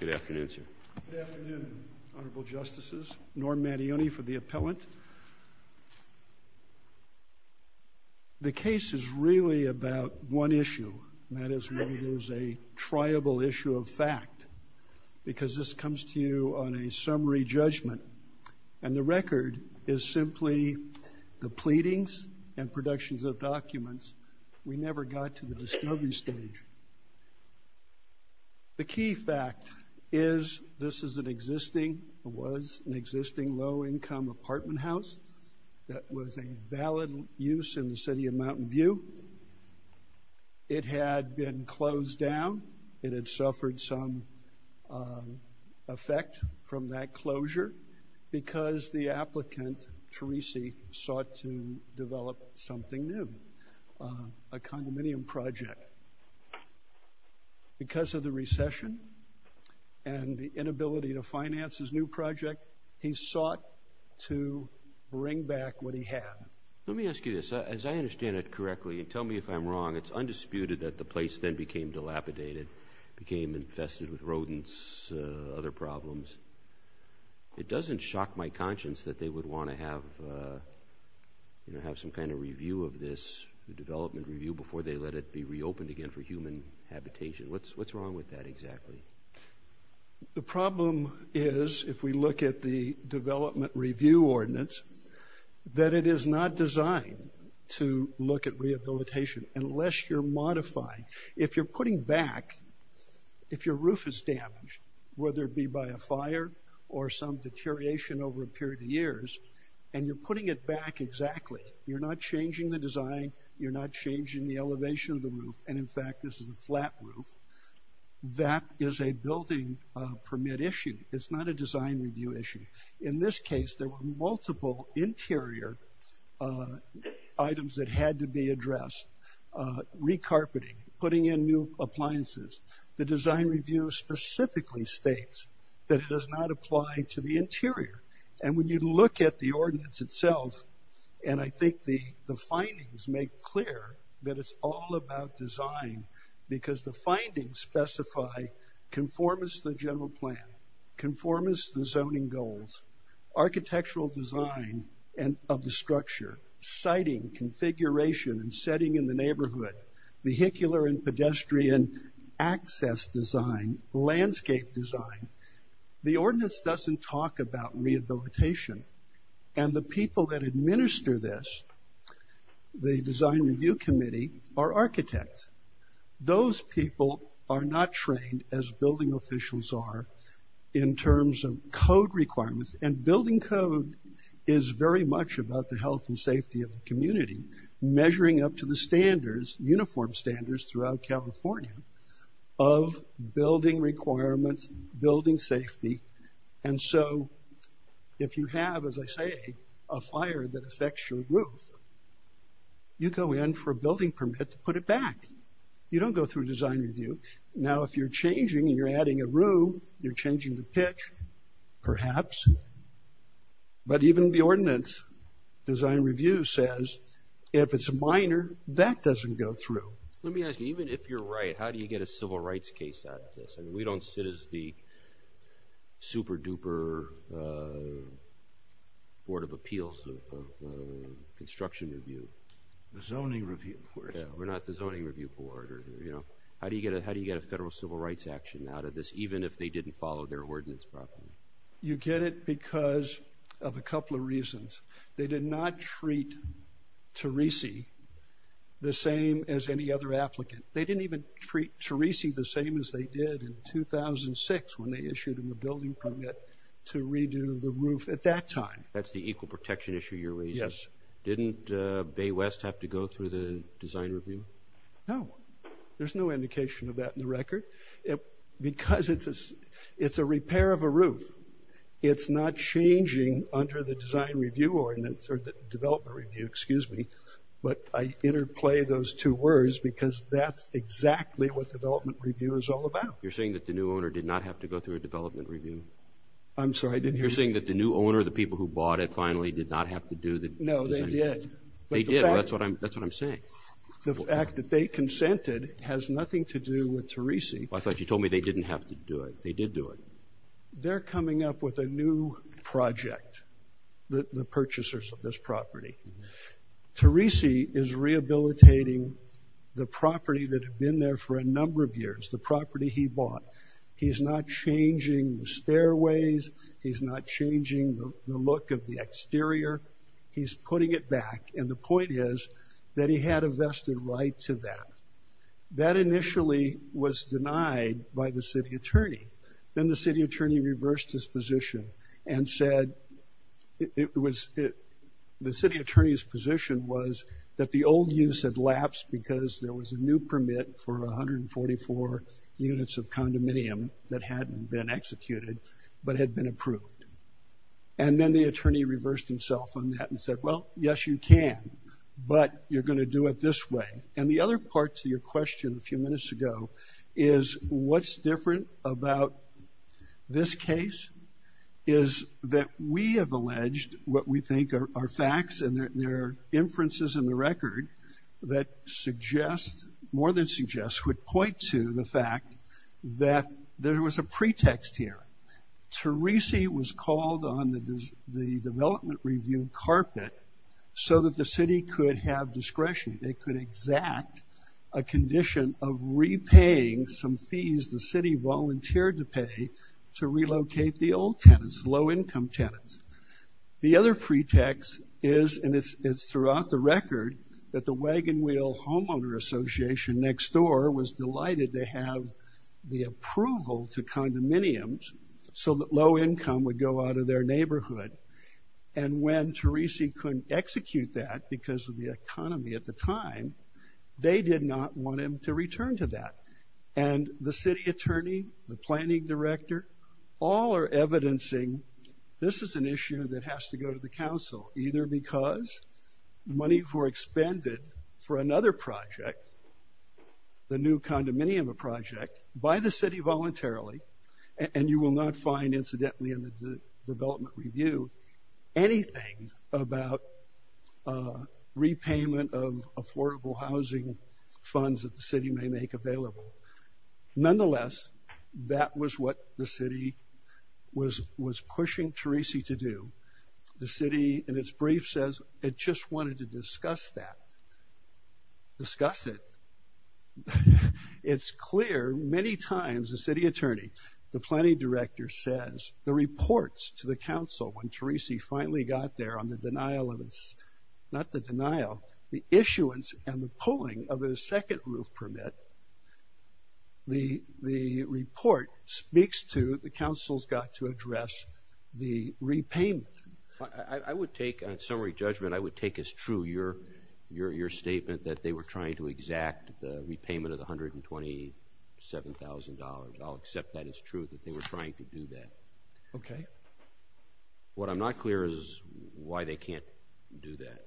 Good afternoon, sir. Good afternoon, Honorable Justices. Norm Mattione for the Appellant. The case is really about one issue, and that is whether there's a triable issue of fact, because this comes to you on a summary judgment, and the record is simply the pleadings and reproductions of documents. We never got to the discovery stage. The key fact is this is an existing, or was an existing, low-income apartment house that was a valid use in the City of Mountain View. It had been closed down. It had suffered some effect from that a condominium project. Because of the recession and the inability to finance his new project, he sought to bring back what he had. Let me ask you this. As I understand it correctly, and tell me if I'm wrong, it's undisputed that the place then became dilapidated, became infested with rodents, other problems. It doesn't shock my conscience that they would want to have some kind of review of this, a development review, before they let it be reopened again for human habitation. What's wrong with that exactly? The problem is, if we look at the development review ordinance, that it is not designed to look at rehabilitation unless you're modifying. If you're putting back, if your roof is damaged, whether it be by a fire or some and you're putting it back exactly, you're not changing the design, you're not changing the elevation of the roof, and in fact this is a flat roof, that is a building permit issue. It's not a design review issue. In this case, there were multiple interior items that had to be addressed. Re-carpeting, putting in new appliances. The design review specifically states that it does not apply to the interior, and when you look at the ordinance itself, and I think the findings make clear that it's all about design, because the findings specify conformance to the general plan, conformance to the zoning goals, architectural design of the structure, siting, configuration, and setting in the neighborhood, vehicular and pedestrian access design, landscape design. The ordinance doesn't talk about rehabilitation, and the people that administer this, the design review committee, are architects. Those people are not trained as building officials are in terms of code requirements, and building code is very much about the health and safety of the community, measuring up to the standards, uniform standards, throughout California of building requirements, building safety, and so if you have, as I say, a fire that affects your roof, you go in for a building permit to put it back. You don't go through design review. Now, if you're changing and you're adding a room, you're changing the pitch, perhaps, but even the ordinance design review says if it's minor, that doesn't go through. Let me ask you, even if you're right, how do you get a civil rights case out of this? I mean, we don't sit as the super-duper board of appeals of construction review. The zoning review. We're not the zoning review board, or, you know, how do you get a federal civil rights action out of this, even if they didn't follow their ordinance properly? You get it because of a couple of reasons. They did not treat Terese the same as any other applicant. They didn't even treat Terese the same as they did in 2006 when they issued him a building permit to redo the roof at that time. That's the equal protection issue you're raising? Yes. Didn't Bay West have to go through the design review? No, there's no indication of that in the record. Because it's a repair of a roof, it's not changing under the design review ordinance, or the development review, excuse me, but I interplay those two words because that's exactly what development review is all about. You're saying that the new owner did not have to go through a development review? I'm sorry, didn't you? You're saying that the new owner, the people who bought it finally, did not have to do the design review? No, they did. They did, that's what I'm saying. The fact that they consented has nothing to do with Terese. I thought you told me they didn't have to do it. They did do it. They're coming up with a new project, the purchasers of this property. Terese is rehabilitating the property that had been there for a number of years, the property he bought. He's not changing the stairways. He's not changing the look of the exterior. He's putting it back, and the point is that he had a vested right to that. That initially was denied by the city attorney. Then the city attorney reversed his position and said the city attorney's position was that the old use had lapsed because there was a new permit for 144 units of condominium that hadn't been executed but had been approved. Then the attorney reversed himself on that and said, well, yes, you can, but you're going to do it this way. The other part to your question a few minutes ago is what's different about this case is that we have alleged what we think are facts, and there are inferences in the record that more than suggest would point to the fact that there was a pretext here. Terese was called on the development review carpet so that the city could have discretion. They could exact a condition of repaying some fees the city volunteered to pay to relocate the old tenants, low income tenants. The other pretext is, and it's throughout the record, that the Wagon Wheel Homeowner Association next door was delighted to have the approval to condominiums so that low income would go out of their neighborhood. And when Terese couldn't execute that because of the economy at the time, they did not want him to return to that. And the city attorney, the planning director, all are evidencing this is an issue that has to go to the council, either because money were expended for another project, the new condominium project, by the city voluntarily, and you will not find incidentally in the development review anything about repayment of affordable housing funds that the city may make available. Nonetheless, that was what the city was pushing Terese to do. The city in its brief says it just wanted to that. Discuss it. It's clear many times the city attorney, the planning director says the reports to the council when Terese finally got there on the denial of this, not the denial, the issuance and the pulling of a second roof permit, the report speaks to the council's got to address the repayment. I would take on summary judgment, I would take as true your statement that they were trying to exact the repayment of the $127,000. I'll accept that as true that they were trying to do that. Okay. What I'm not clear is why they can't do that.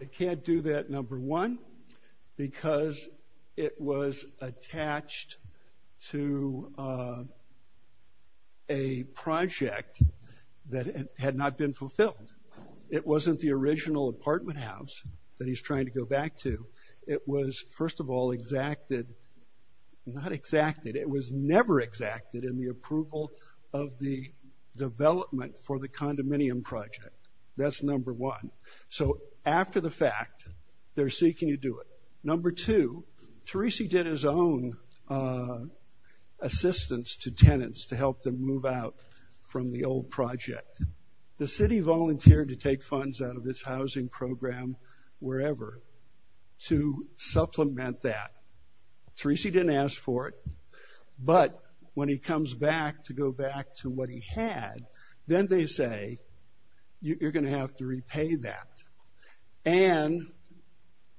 They can't do that, because it was attached to a project that had not been fulfilled. It wasn't the original apartment house that he's trying to go back to. It was first of all exacted, not exacted, it was never exacted in the approval of the development for the condominium project. That's number one. So after the fact, they're seeking to do it. Number two, Terese did his own assistance to tenants to help them move out from the old project. The city volunteered to take funds out of its housing program wherever to supplement that. Terese didn't ask for it, but when he comes back to go back to what he had, then they say, you're going to have to repay that. And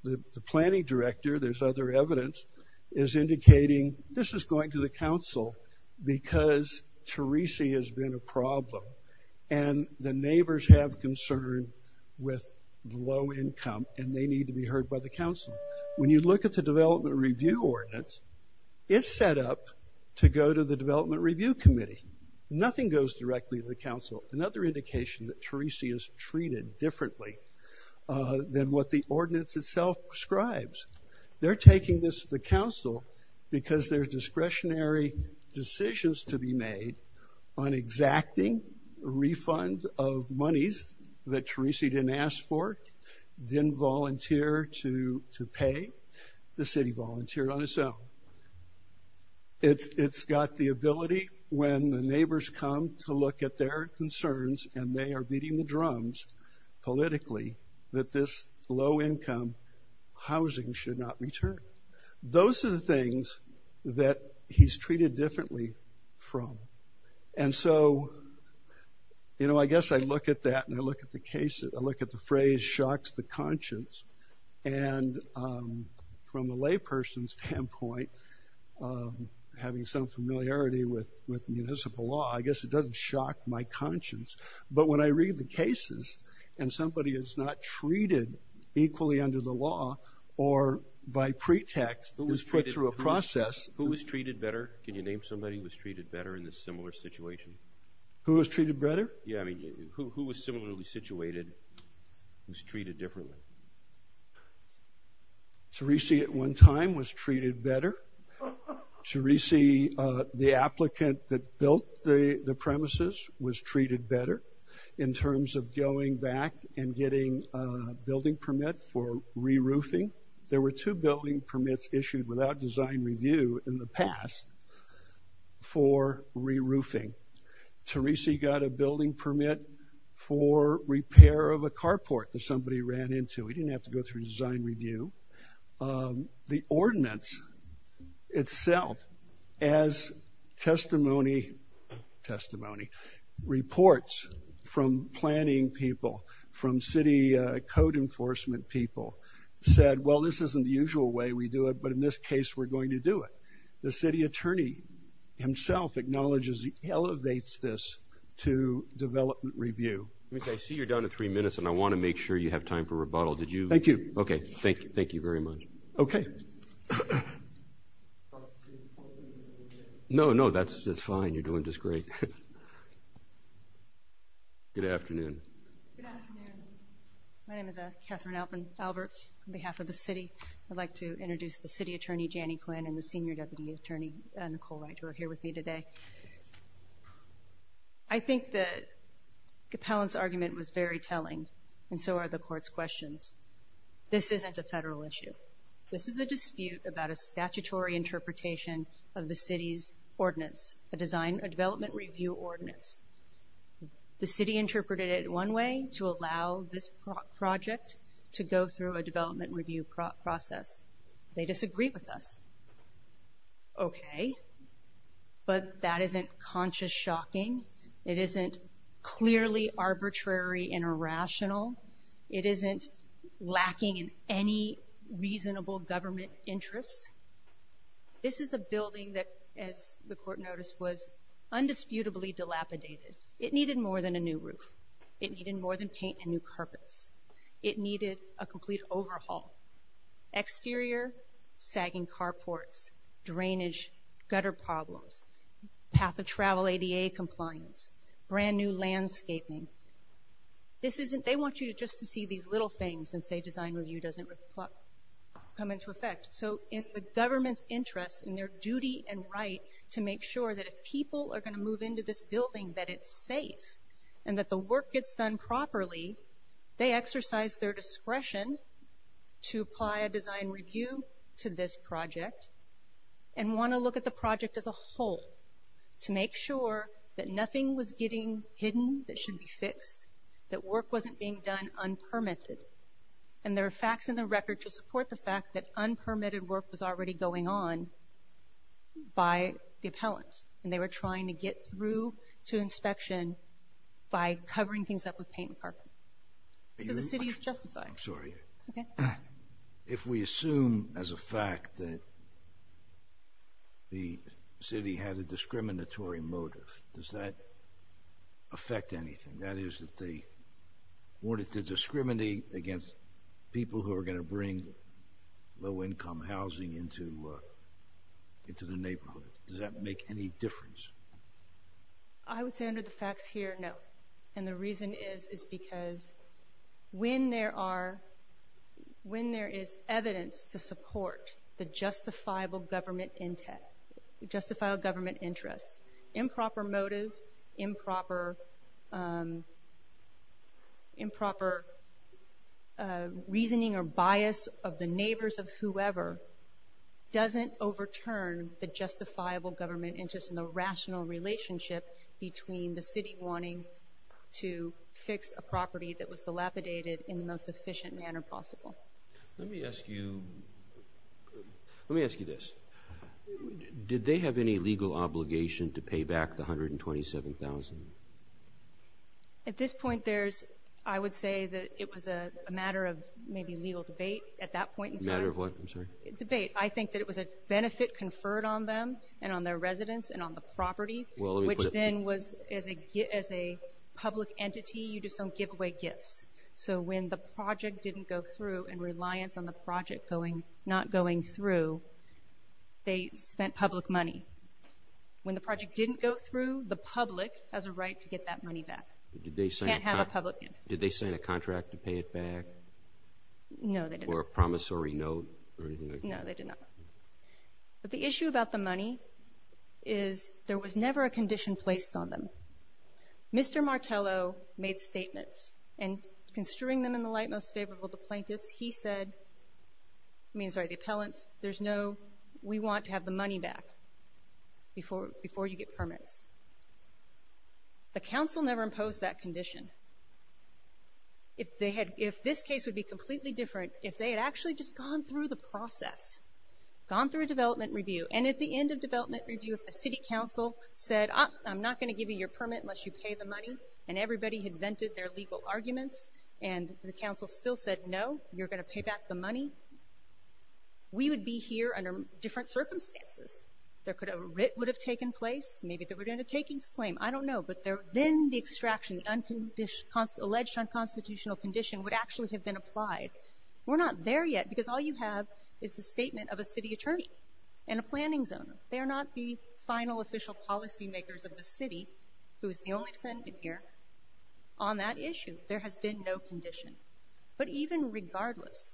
the planning director, there's other evidence, is indicating this is going to the council because Terese has been a problem. And the neighbors have concern with low income and they need to be heard by the council. When you look at the development review ordinance, it's set up to go to the development review committee. Nothing goes directly to the council. Another indication that Terese is treated differently than what the ordinance itself describes. They're taking this to the council because there's discretionary decisions to be made on exacting a refund of monies that Terese didn't ask for, didn't volunteer to pay. The city volunteered on its own. It's got the ability when the neighbors come to look at their concerns and they are beating the drums politically that this low income housing should not return. Those are the things that he's treated differently from. And so, you know, I guess I look at that and I look at the phrase shocks the conscience. And from a lay person's standpoint, having some familiarity with municipal law, I guess it doesn't shock my conscience. But when I read the cases and somebody is not treated equally under the law or by pretext, who was put through a process. Who was treated better? Can you name somebody who was treated better in this similar situation? Who was treated better? Yeah. I mean, who was similarly situated? Who's treated differently? Terese at one time was treated better. Terese, the applicant that built the premises was treated better in terms of going back and getting a building permit for re-roofing. There were two building permits issued without design review in the past for re-roofing. Terese got a building permit for repair of a carport that somebody ran into. He didn't have to go through design review. The ordinance itself as testimony, reports from planning people, from city code enforcement people said, well, this isn't the usual way we do it, but in this case, we're going to do it. The city attorney himself acknowledges he elevates this to development review. I see you're down to three minutes and I want to make sure you have time for rebuttal. Did you? Thank you. Okay. Thank you. Thank you very much. Okay. No, no, that's fine. You're doing just great. Good afternoon. Good afternoon. My name is Catherine Alberts on behalf of the city. I'd like to introduce the city attorney, Janie Quinn, and the senior deputy attorney, Nicole Wright, who are here with me today. I think that Capellan's argument was very telling and so are the court's questions. This isn't a federal issue. This is a dispute about a statutory interpretation of the city's ordinance, a development review ordinance. The city interpreted it one way, to allow this project to go through a development review process. They disagree with us. Okay. But that isn't conscious shocking. It isn't clearly arbitrary and irrational. It isn't lacking in any reasonable government interest. This is a building that, as the court noticed, was undisputably dilapidated. It needed more than a new roof. It needed more than paint and new carpets. It needed a complete overhaul. Exterior, sagging carports, drainage, gutter problems, path of travel ADA compliance, brand new landscaping. They want you just to see these little things and say design review doesn't come into effect. So in the government's interest, in their duty and right to make sure that if people are going to move into this building, that it's safe and that the work gets done properly, they exercise their discretion to apply a design review to this project and want to look at the project as a whole to make sure that nothing was getting hidden that should be fixed, that work wasn't being done unpermitted. And there are facts in the record to support the fact that unpermitted work was already going on by the appellant. And they were trying to get through to inspection by covering things up with paint and carpet. So the city is justified. I'm sorry. If we assume as a fact that the city had a discriminatory motive, does that affect anything? That is, that they wanted to discriminate against people who are going to bring low-income housing into the neighborhood. Does that make any difference? I would say under the facts here, no. And the reason is, is because when there are, when there is evidence to support the justifiable government intent, justifiable government interest, improper motive, improper reasoning or bias of the neighbors of whoever doesn't overturn the justifiable government interest and the rational relationship between the city wanting to fix a property that was dilapidated in the most efficient manner possible. Let me ask you, let me ask you this. Did they have any legal obligation to pay back the $127,000? At this point, there's, I would say that it was a matter of maybe legal debate at that point. Matter of what? I'm sorry. And on their residence and on the property, which then was as a public entity, you just don't give away gifts. So when the project didn't go through and reliance on the project going, not going through, they spent public money. When the project didn't go through, the public has a right to get that money back. Can't have a public gift. Did they sign a contract to pay it back? No, they didn't. Or a promissory note or anything like that? No, they did not. But the issue about the money is there was never a condition placed on them. Mr. Martello made statements and construing them in the light most favorable to plaintiffs, he said, I mean, sorry, the appellants, there's no, we want to have the money back before you get permits. The council never imposed that condition. If they had, if this case would be completely different, if they had actually just gone through the process, gone through a development review, and at the end of development review, if the city council said, I'm not going to give you your permit unless you pay the money, and everybody had vented their legal arguments, and the council still said, no, you're going to pay back the money, we would be here under different circumstances. There could have, a writ would have taken place. Maybe there would have been a takings claim. I don't know. But there, then the extraction, the We're not there yet, because all you have is the statement of a city attorney, and a planning zoner. They're not the final official policymakers of the city, who is the only defendant here, on that issue. There has been no condition. But even regardless,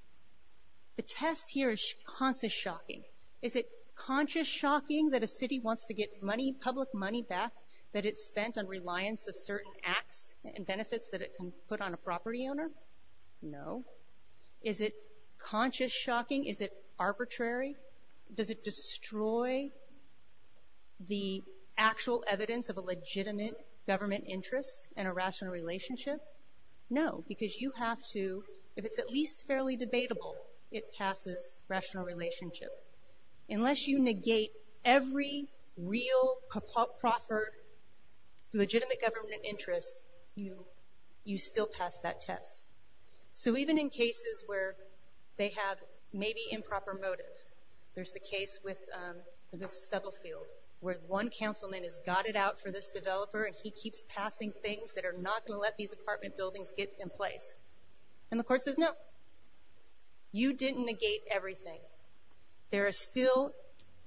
the test here is conscious shocking. Is it conscious shocking that a city wants to get money, public money back, that it spent on reliance of certain acts and benefits that can put on a property owner? No. Is it conscious shocking? Is it arbitrary? Does it destroy the actual evidence of a legitimate government interest and a rational relationship? No, because you have to, if it's at least fairly debatable, it passes rational relationship. Unless you negate every real proper legitimate government interest, you still pass that test. So even in cases where they have maybe improper motive, there's the case with Stubblefield, where one councilman has got it out for this developer, and he keeps passing things that are not going to let these apartment buildings get in place. And the court says, no, you didn't negate everything. There are still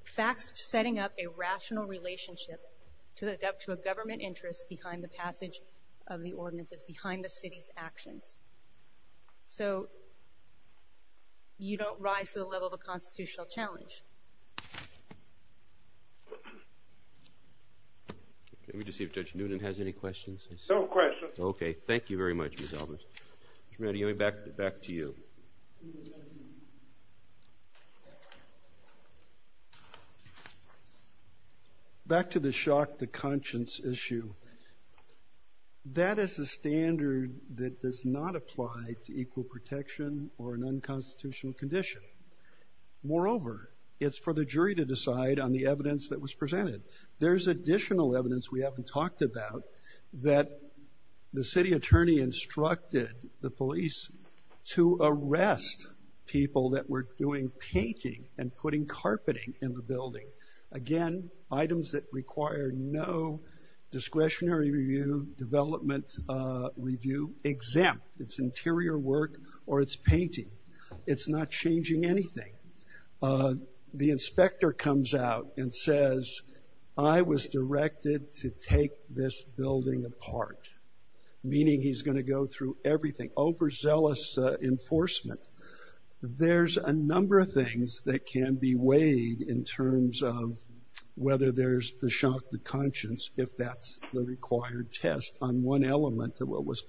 facts setting up a rational relationship to a government interest behind the passage of the ordinances, behind the city's actions. So you don't rise to the level of a constitutional challenge. Let me just see if Judge Noonan has any questions. No questions. Okay, thank you very much, Ms. Albers. Mr. Mattioli, back to you. Back to the shock to conscience issue, that is a standard that does not apply to equal protection or an unconstitutional condition. Moreover, it's for the jury to decide on the evidence that was instructed the police to arrest people that were doing painting and putting carpeting in the building. Again, items that require no discretionary review, development review, exempt its interior work or its painting. It's not changing anything. The inspector comes out and says, I was directed to take this building apart, meaning he's going to go through everything over zealous enforcement. There's a number of things that can be weighed in terms of whether there's the shock to conscience, if that's the required test on one element of what was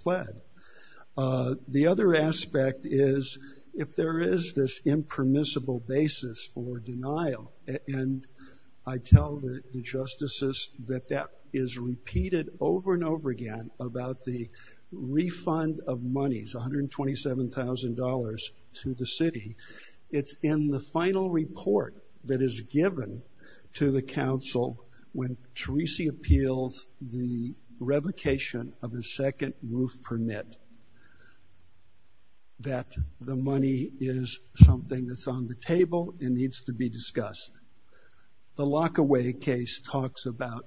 impermissible basis for denial. And I tell the justices that that is repeated over and over again about the refund of monies, $127,000 to the city. It's in the final report that is given to the council when Theresa appeals the revocation of a second roof permit that the money is something that's on the table and needs to be discussed. The Lockaway case talks about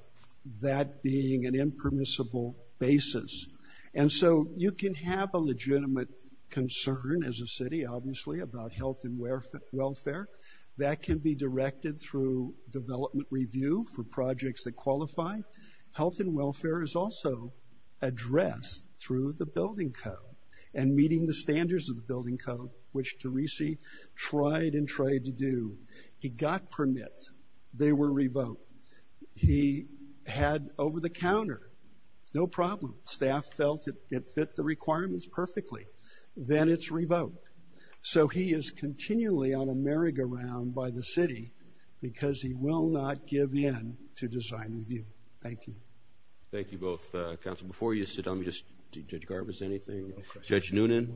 that being an impermissible basis. And so you can have a legitimate concern as a city, obviously, about health and welfare. That can be directed through development review for projects that qualify. Health and welfare is also addressed through the building code and meeting the standards of the building code, which Theresa tried and tried to do. He got permits. They were revoked. He had over-the-counter. No problem. Staff felt it fit the requirements perfectly. Then it's revoked. So he is continually on a merry-go-round by the city because he will not give in to design review. Thank you. Thank you both, counsel. Before you sit down, Judge Garbus, anything? Judge Noonan?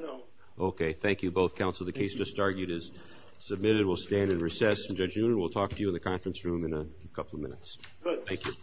No. Okay. Thank you both, counsel. The case just argued is submitted. We'll stand in recess. And Judge Noonan, we'll talk to you in the conference room in a couple of minutes. Thank you.